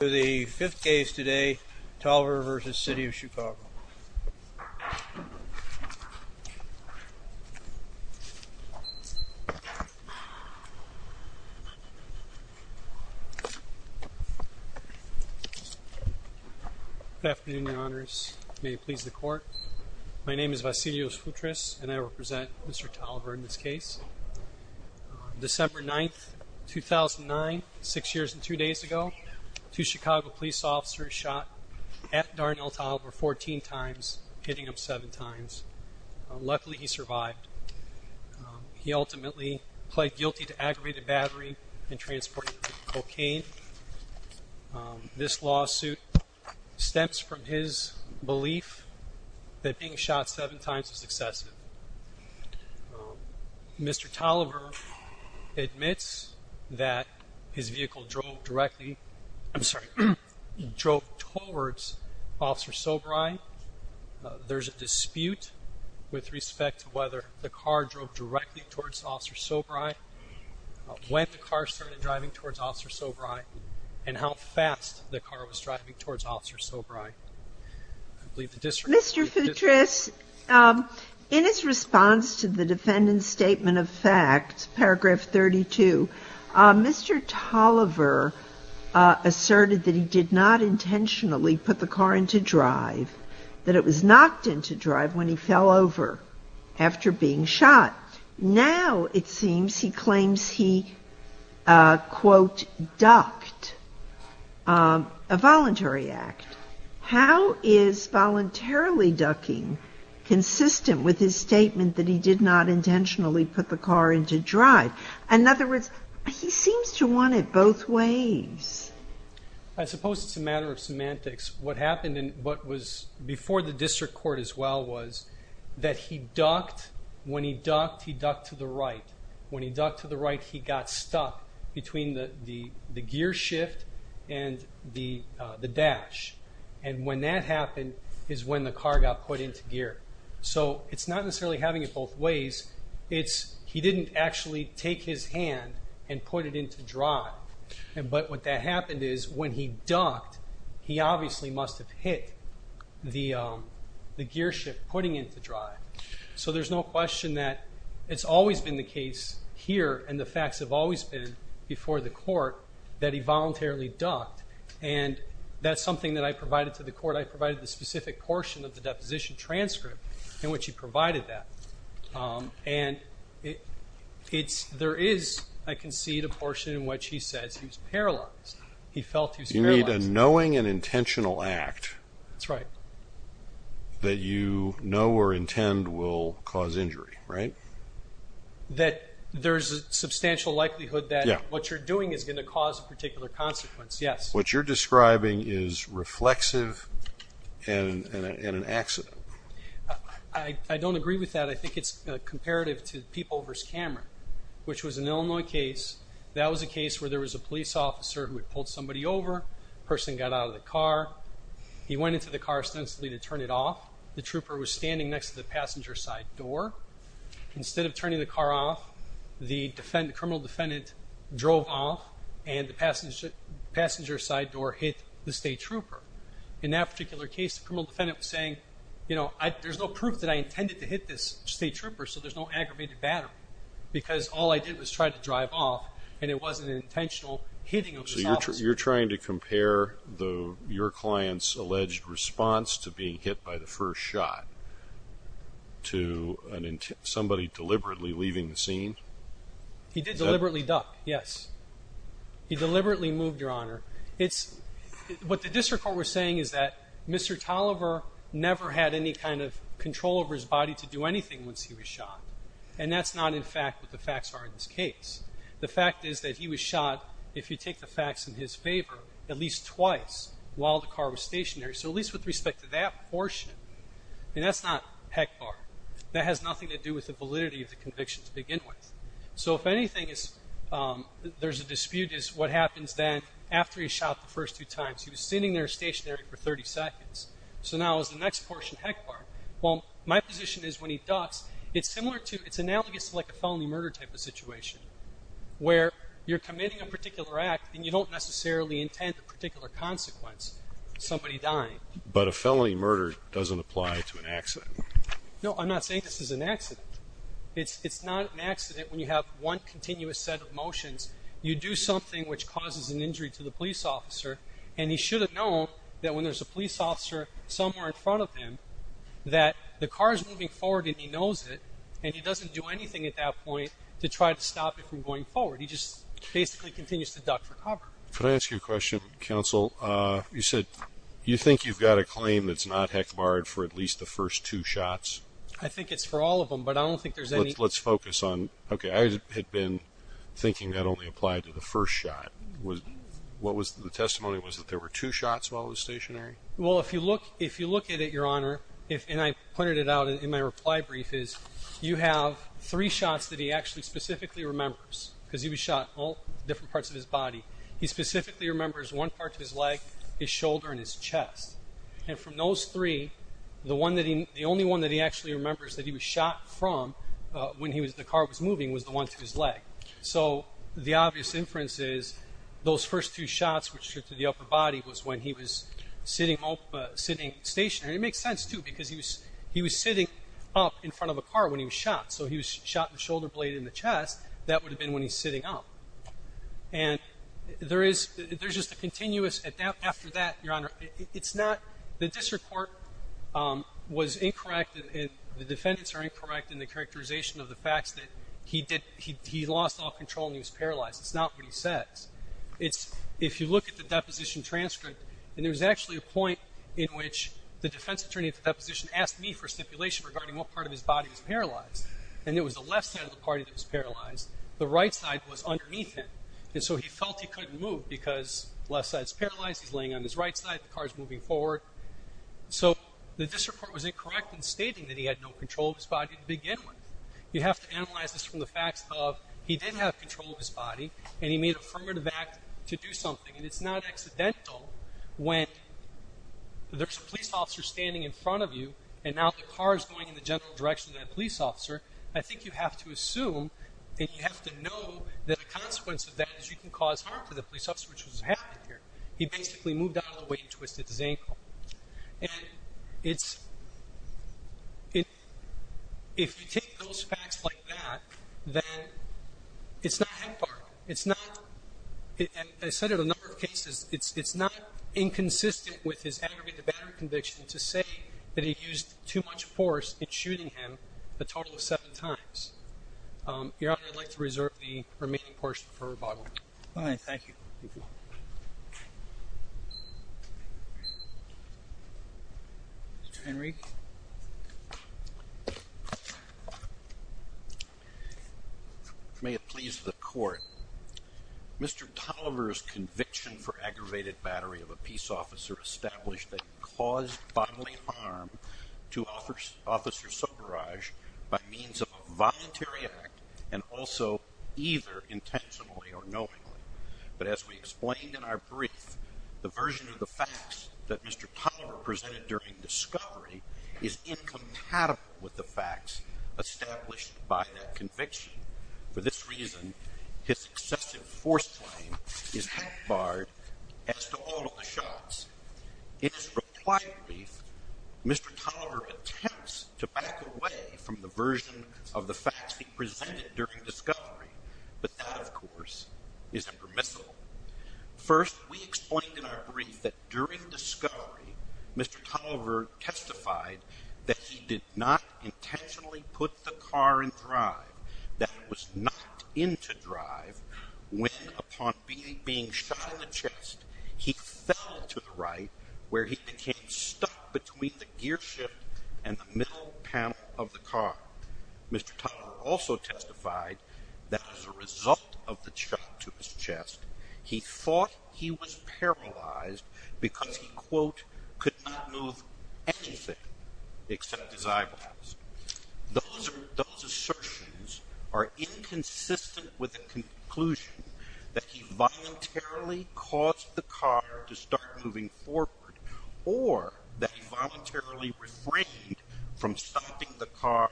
The fifth case today, Tolliver v. City of Chicago. Good afternoon, your honors. May it please the court. My name is Vassilios Futris, and I represent Mr. Tolliver in this case. December 9, 2009, six years and two days ago, two Chicago police officers shot at Darnell Tolliver 14 times, hitting him seven times. Luckily, he survived. He ultimately pled guilty to aggravated battery and transporting cocaine. This lawsuit stems from his belief that being shot seven times is excessive. Mr. Tolliver admits that his vehicle drove directly, I'm sorry, drove towards Officer Sobrei. There's a dispute with respect to whether the car drove directly towards Officer Sobrei, when the car started driving towards Officer Sobrei, and how fast the car was driving towards Officer Sobrei. Mr. Futris, in his response to the defendant's statement of fact, paragraph 32, Mr. Tolliver asserted that he did not intentionally put the car into drive, that it was knocked into drive when he fell over after being shot. Now, it seems, he claims he, quote, ducked, a voluntary act. How is voluntarily ducking consistent with his statement that he did not intentionally put the car into drive? In other words, he seems to want it both ways. I suppose it's a matter of semantics. What happened, and what was before the district court as well, was that he ducked. When he ducked, he ducked to the right. When he ducked to the right, he got stuck between the gear shift and the dash. And when that happened is when the car got put into gear. So it's not necessarily having it both ways. It's he didn't actually take his hand and put it into drive. But what that happened is when he ducked, he obviously must have hit the gear shift putting into drive. So there's no question that it's always been the case here, and the facts have always been before the court, that he voluntarily ducked. And that's something that I provided to the court. I provided the specific portion of the deposition transcript in which he provided that. And there is, I concede, a portion in which he says he was paralyzed. He felt he was paralyzed. You need a knowing and intentional act. That's right. That you know or intend will cause injury, right? That there's a substantial likelihood that what you're doing is going to cause a particular consequence, yes. What you're describing is reflexive and an accident. I don't agree with that. I think it's comparative to Peepover's Cameron, which was an Illinois case. That was a case where there was a police officer who had pulled somebody over. The person got out of the car. He went into the car ostensibly to turn it off. The trooper was standing next to the passenger side door. Instead of turning the car off, the criminal defendant drove off, and the passenger side door hit the state trooper. In that particular case, the criminal defendant was saying, you know, there's no proof that I intended to hit this state trooper, so there's no aggravated battery. Because all I did was try to drive off, and it wasn't an intentional hitting of the self. So you're trying to compare your client's alleged response to being hit by the first shot to somebody deliberately leaving the scene? He did deliberately duck, yes. He deliberately moved, Your Honor. What the district court was saying is that Mr. Tolliver never had any kind of control over his body to do anything once he was shot, and that's not, in fact, what the facts are in this case. The fact is that he was shot, if you take the facts in his favor, at least twice while the car was stationary, so at least with respect to that portion. I mean, that's not heck barred. That has nothing to do with the validity of the conviction to begin with. So if anything, there's a dispute as to what happens then after he's shot the first two times. He was sitting there stationary for 30 seconds. So now is the next portion heck barred? Well, my position is when he ducks, it's similar to, it's analogous to like a felony murder type of situation where you're committing a particular act and you don't necessarily intend a particular consequence, somebody dying. But a felony murder doesn't apply to an accident. No, I'm not saying this is an accident. It's not an accident when you have one continuous set of motions. You do something which causes an injury to the police officer, and he should have known that when there's a police officer somewhere in front of him that the car is moving forward and he knows it, and he doesn't do anything at that point to try to stop it from going forward. He just basically continues to duck for cover. Could I ask you a question, counsel? You said you think you've got a claim that's not heck barred for at least the first two shots? I think it's for all of them, but I don't think there's any. Let's focus on, okay. I had been thinking that only applied to the first shot. What was the testimony? Was it that there were two shots while it was stationary? Well, if you look at it, Your Honor, and I pointed it out in my reply brief is you have three shots that he actually specifically remembers because he was shot all different parts of his body. He specifically remembers one part of his leg, his shoulder, and his chest. And from those three, the only one that he actually remembers that he was shot from when the car was moving was the one to his leg. So the obvious inference is those first two shots, which are to the upper body, was when he was sitting stationary. And it makes sense, too, because he was sitting up in front of a car when he was shot. So he was shot in the shoulder blade and the chest. That would have been when he's sitting up. And there's just a continuous, after that, Your Honor, it's not the district court was incorrect, and the defendants are incorrect in the characterization of the facts that he lost all control and he was paralyzed. It's not what he says. If you look at the deposition transcript, and there was actually a point in which the defense attorney at the deposition asked me for stipulation regarding what part of his body was paralyzed. And it was the left side of the body that was paralyzed. The right side was underneath him. And so he felt he couldn't move because the left side is paralyzed, he's laying on his right side, the car is moving forward. So the district court was incorrect in stating that he had no control of his body to begin with. You have to analyze this from the facts of he did have control of his body, and he made an affirmative act to do something. And it's not accidental when there's a police officer standing in front of you, and now the car is going in the general direction of that police officer. I think you have to assume, and you have to know that a consequence of that is you can cause harm to the police officer, which is what happened here. He basically moved out of the way and twisted his ankle. And it's – if you take those facts like that, then it's not HEPFAR. It's not – and I said it a number of cases. It's not inconsistent with his aggregate to battery conviction to say that he used too much force in shooting him a total of seven times. Your Honor, I'd like to reserve the remaining portion for rebuttal. All right. Thank you. Mr. Henry. May it please the court, Mr. Tolliver's conviction for aggravated battery of a peace officer established that he caused bodily harm to Officer Sobaraj by means of a voluntary act and also either intentionally or knowingly. But as we explained in our brief, the version of the facts that Mr. Tolliver presented during discovery is incompatible with the facts established by that conviction. For this reason, his excessive force claim is HEPFAR'd as to all of the shots. In his reply brief, Mr. Tolliver attempts to back away from the version of the facts he presented during discovery, but that, of course, is impermissible. First, we explained in our brief that during discovery, Mr. Tolliver testified that he did not intentionally put the car in drive, that it was not into drive, when upon being shot in the chest, he fell to the right, where he became stuck between the gearshift and the middle panel of the car. Mr. Tolliver also testified that as a result of the shot to his chest, he thought he was paralyzed because he, quote, could not move anything except his eyeballs. Those assertions are inconsistent with the conclusion that he voluntarily caused the car to start moving forward or that he voluntarily refrained from stopping the car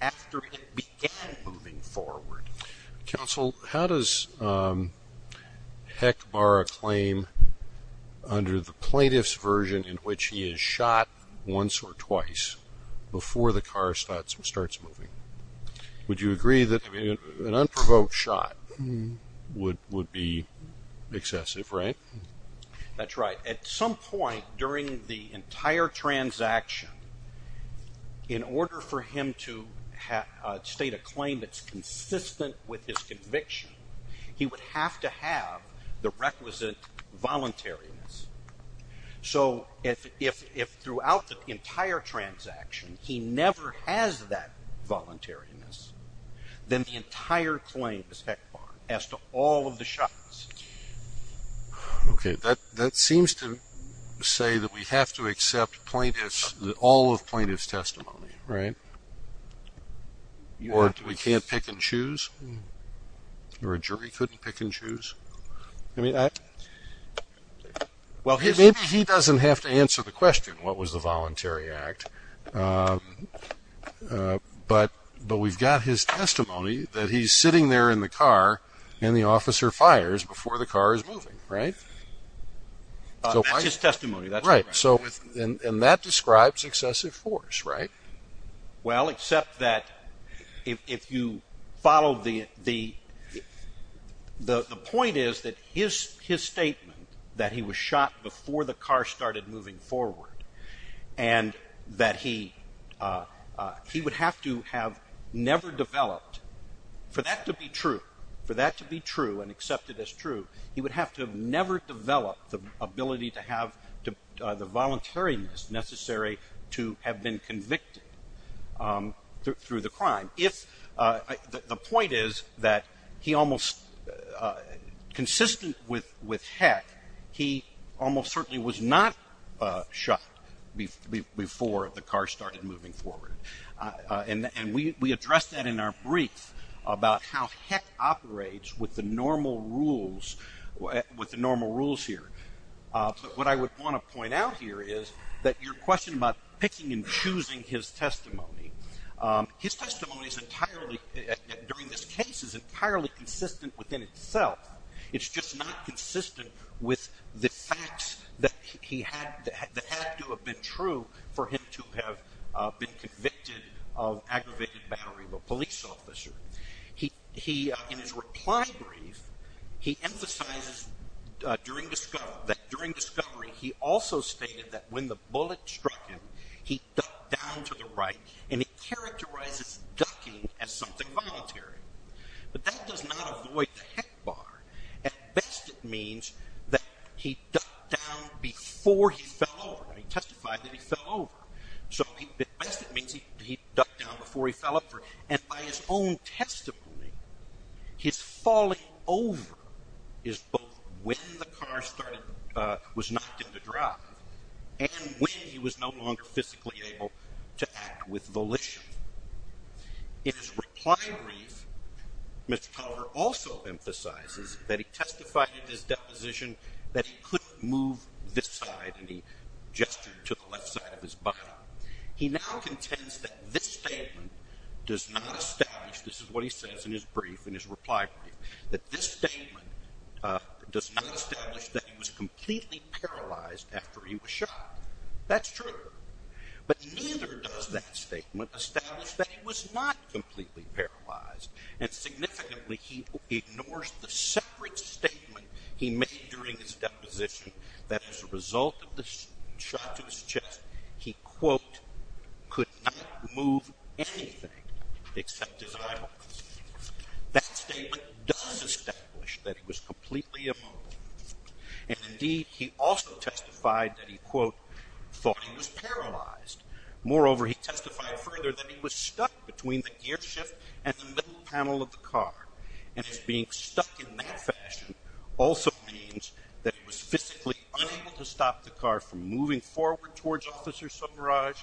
after it began moving forward. Counsel, how does HECFAR a claim under the plaintiff's version in which he is shot once or twice before the car starts moving? Would you agree that an unprovoked shot would be excessive, right? That's right. At some point during the entire transaction, in order for him to state a claim that's consistent with his conviction, he would have to have the requisite voluntariness. So if throughout the entire transaction he never has that voluntariness, then the entire claim is HECFAR as to all of the shots. Okay. That seems to say that we have to accept plaintiffs, all of plaintiffs' testimony, right? Or we can't pick and choose? Or a jury couldn't pick and choose? Maybe he doesn't have to answer the question, what was the voluntary act, but we've got his testimony that he's sitting there in the car and the officer fires before the car is moving, right? That's his testimony. Right. And that describes excessive force, right? Well, except that if you follow the point is that his statement, that he was shot before the car started moving forward, and that he would have to have never developed, for that to be true, for that to be true and accepted as true, he would have to have never developed the ability to have the voluntariness necessary to have been convicted through the crime. The point is that he almost, consistent with HEC, he almost certainly was not shot before the car started moving forward. And we addressed that in our brief about how HEC operates with the normal rules, with the normal rules here. But what I would want to point out here is that your question about picking and choosing his testimony, his testimony is entirely, during this case is entirely consistent within itself. It's just not consistent with the facts that had to have been true for him to have been convicted of aggravated battery of a police officer. In his reply brief, he emphasizes that during discovery, he also stated that when the bullet struck him, he ducked down to the right, and he characterizes ducking as something voluntary. But that does not avoid the HEC bar. At best, it means that he ducked down before he fell over. He testified that he fell over. So at best, it means he ducked down before he fell over. And by his own testimony, his falling over is both when the car was knocked into drive and when he was no longer physically able to act with volition. In his reply brief, Mr. Culver also emphasizes that he testified at his deposition that he couldn't move this side, and he gestured to the left side of his body. He now contends that this statement does not establish, this is what he says in his brief, in his reply brief, that this statement does not establish that he was completely paralyzed after he was shot. That's true. But neither does that statement establish that he was not completely paralyzed. And significantly, he ignores the separate statement he made during his deposition that as a result of the shot to his chest, he, quote, could not move anything except his eyeballs. That statement does establish that he was completely immobile. And indeed, he also testified that he, quote, thought he was paralyzed. Moreover, he testified further that he was stuck between the gear shift and the middle panel of the car. And his being stuck in that fashion also means that he was physically unable to stop the car from moving forward towards Officer Subbaraj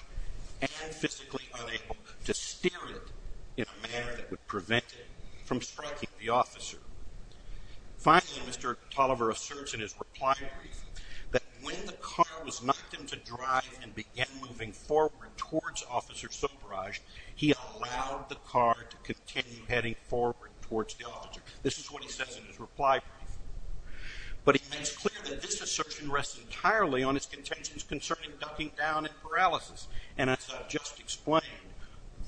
and physically unable to steer it in a manner that would prevent it from striking the officer. Finally, Mr. Tulliver asserts in his reply brief that when the car was knocked into drive and began moving forward towards Officer Subbaraj, he allowed the car to continue heading forward towards the officer. This is what he says in his reply brief. But he makes clear that this assertion rests entirely on his contentions concerning ducking down and paralysis. And as I've just explained,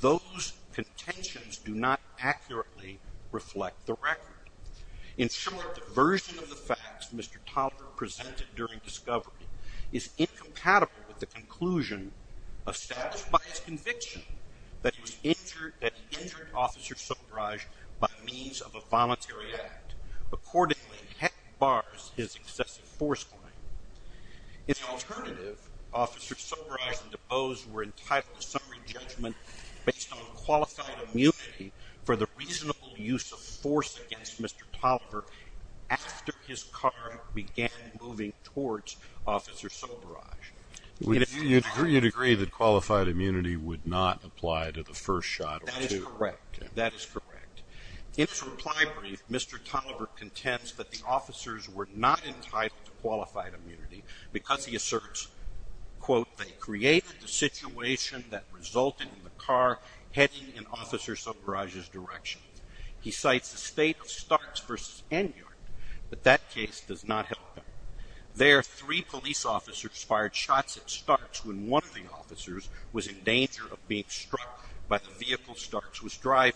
those contentions do not accurately reflect the record. In short, the version of the facts Mr. Tulliver presented during discovery is incompatible with the conclusion established by his conviction that he injured Officer Subbaraj by means of a voluntary act. Accordingly, heck bars his excessive force claim. In alternative, Officer Subbaraj and DuBose were entitled to summary judgment based on qualified immunity for the reasonable use of force against Mr. Tulliver after his car began moving towards Officer Subbaraj. You'd agree that qualified immunity would not apply to the first shot or two. That is correct. In his reply brief, Mr. Tulliver contends that the officers were not entitled to qualified immunity because he asserts, quote, they created the situation that resulted in the car heading in Officer Subbaraj's direction. He cites the state of Starks v. Enyard, but that case does not help him. There, three police officers fired shots at Starks when one of the officers was in danger of being struck by the vehicle Starks was driving.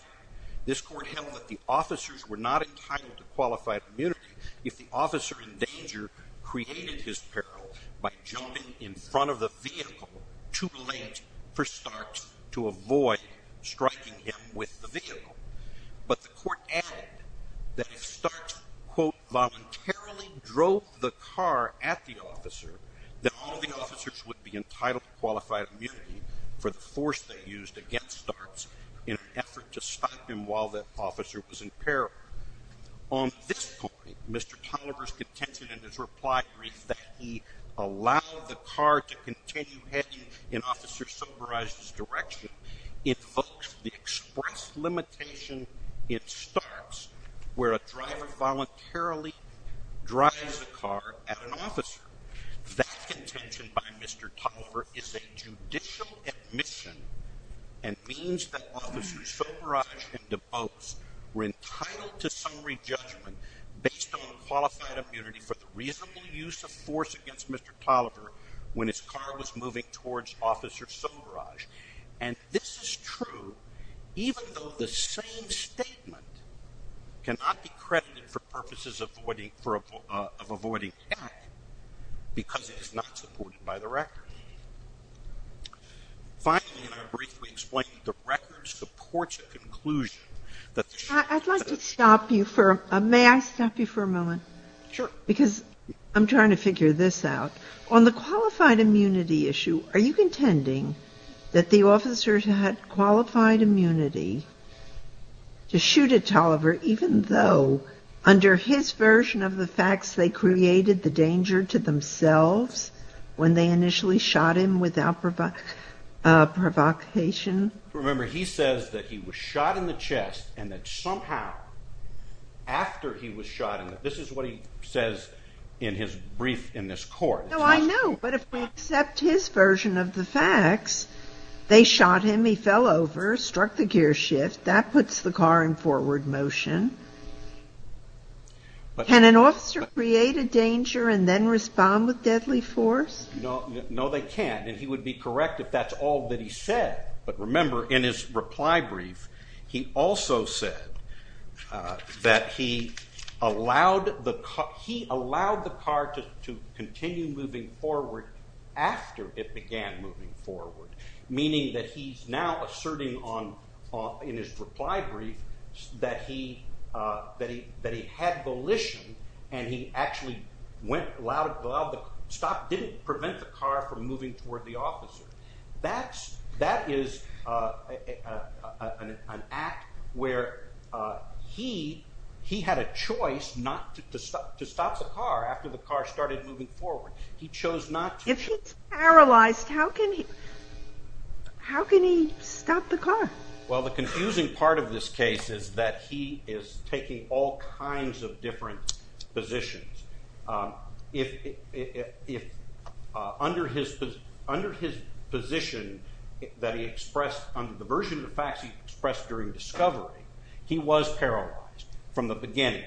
This court held that the officers were not entitled to qualified immunity if the officer in danger created his peril by jumping in front of the vehicle too late for Starks to avoid striking him with the vehicle. But the court added that if Starks, quote, voluntarily drove the car at the officer, that all of the officers would be entitled to qualified immunity for the force they used against Starks in an effort to stop him while the officer was in peril. On this point, Mr. Tulliver's contention in his reply brief that he allowed the car to continue heading in Officer Subbaraj's direction invokes the express limitation in Starks where a driver voluntarily drives a car at an officer. That contention by Mr. Tulliver is a judicial admission and means that Officers Subbaraj and DuBose were entitled to summary judgment based on qualified immunity for the reasonable use of force against Mr. Tulliver when his car was moving towards Officer Subbaraj. And this is true even though the same statement cannot be credited for purposes of avoiding fact because it is not supported by the record. Finally, in our brief, we explained the records, the courts' conclusion that the ---- I'd like to stop you for a moment. May I stop you for a moment? Sure. Because I'm trying to figure this out. On the qualified immunity issue, are you contending that the officers had qualified immunity to shoot at Tulliver even though under his version of the facts they created the danger to themselves when they initially shot him without provocation? Remember, he says that he was shot in the chest and that somehow after he was shot This is what he says in his brief in this court. No, I know. But if we accept his version of the facts, they shot him, he fell over, struck the gear shift, that puts the car in forward motion. Can an officer create a danger and then respond with deadly force? No, they can't. And he would be correct if that's all that he said. But remember, in his reply brief, he also said that he allowed the car to continue moving forward after it began moving forward. Meaning that he's now asserting in his reply brief that he had volition and he actually stopped, didn't prevent the car from moving toward the officer. That is an act where he had a choice not to stop the car after the car started moving forward. He chose not to. If he's paralyzed, how can he stop the car? Well, the confusing part of this case is that he is taking all kinds of different positions. If under his position that he expressed under the version of the facts he expressed during discovery, he was paralyzed from the beginning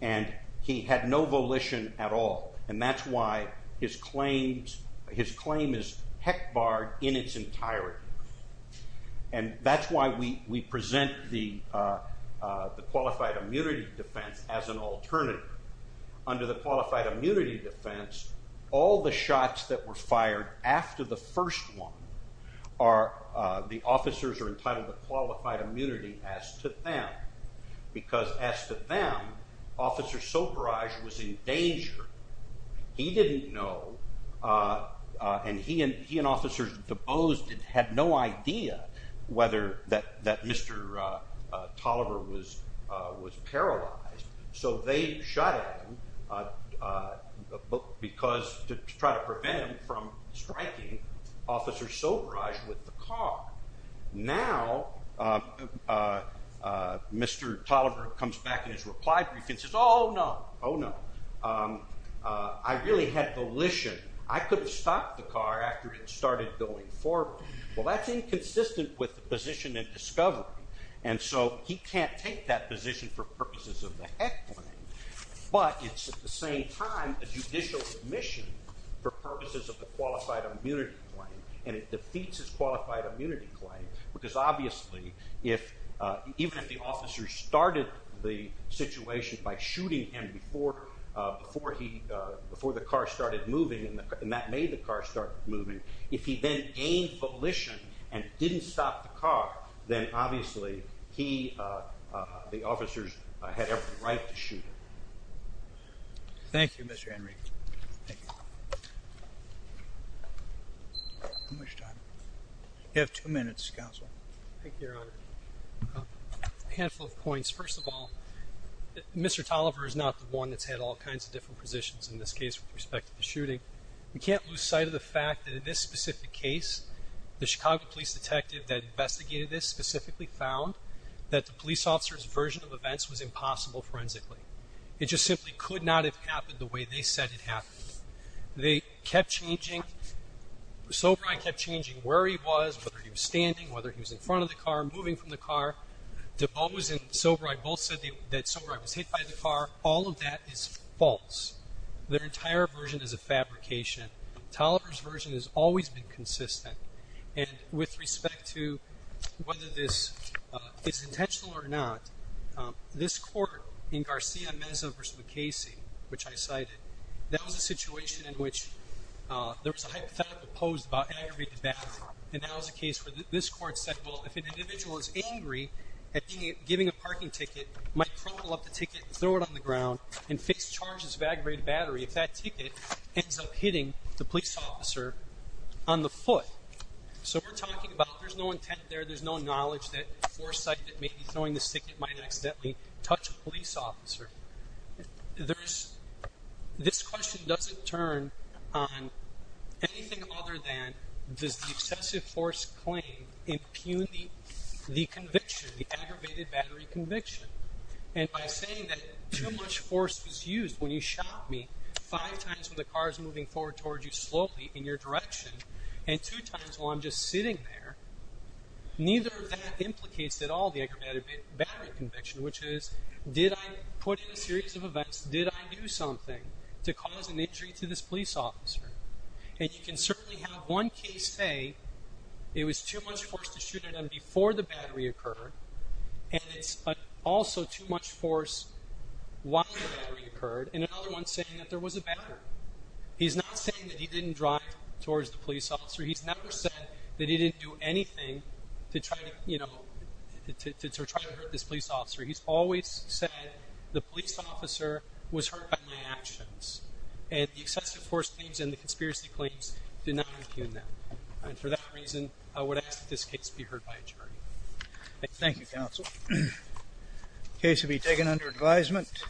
and he had no volition at all. And that's why his claim is heck barred in its entirety. And that's why we present the qualified immunity defense as an alternative under the qualified immunity defense. All the shots that were fired after the first one, the officers are entitled to qualified immunity as to them. Because as to them, Officer Soberage was in danger. He didn't know, and he and Officer DeBose had no idea that Mr. Tolliver was paralyzed. So they shot at him to try to prevent him from striking Officer Soberage with the car. Now, Mr. Tolliver comes back in his reply brief and says, oh no, oh no. I really had volition. I could have stopped the car after it started going forward. Well, that's inconsistent with the position in discovery. And so he can't take that position for purposes of the heck claim. But it's at the same time a judicial admission for purposes of the qualified immunity claim. And it defeats his qualified immunity claim. Because obviously, even if the officers started the situation by shooting him before the car started moving, and that made the car start moving, if he then gained volition and didn't stop the car, then obviously he, the officers, had every right to shoot him. Thank you, Mr. Henry. You have two minutes, Counsel. Thank you, Your Honor. A handful of points. First of all, Mr. Tolliver is not the one that's had all kinds of different positions in this case with respect to the shooting. We can't lose sight of the fact that in this specific case, the Chicago police detective that investigated this specifically found that the police officer's version of events was impossible forensically. It just simply could not have happened the way they said it happened. They kept changing, Soberai kept changing where he was, whether he was standing, whether he was in front of the car, moving from the car. DeBose and Soberai both said that Soberai was hit by the car. All of that is false. Their entire version is a fabrication. Tolliver's version has always been consistent. And with respect to whether this is intentional or not, this court in Garcia Meza v. MacCasey, which I cited, that was a situation in which there was a hypothetical posed by an aggravated back. And that was a case where this court said, well, if an individual is angry at giving a parking ticket, might propel up the ticket and throw it on the ground and face charges of aggravated battery if that ticket ends up hitting the police officer on the foot. So we're talking about there's no intent there. There's no knowledge that foresight that may be throwing this ticket might accidentally touch a police officer. There's this question doesn't turn on anything other than does the excessive force claim impugning the conviction, the aggravated battery conviction. And by saying that too much force was used when you shot me five times when the car is moving forward towards you slowly in your direction and two times while I'm just sitting there, neither of that implicates that all the aggravated battery conviction, which is did I put in a series of events? Did I do something to cause an injury to this police officer? And you can certainly have one case say it was too much force to shoot at him before the battery occurred. And it's also too much force while the battery occurred. And another one saying that there was a battery. He's not saying that he didn't drive towards the police officer. He's never said that he didn't do anything to try to, you know, to try to hurt this police officer. He's always said the police officer was hurt by my actions. And the excessive force claims and the conspiracy claims do not impugn that. And for that reason, I would ask that this case be heard by a jury. Thank you, counsel. Case will be taken under advisement.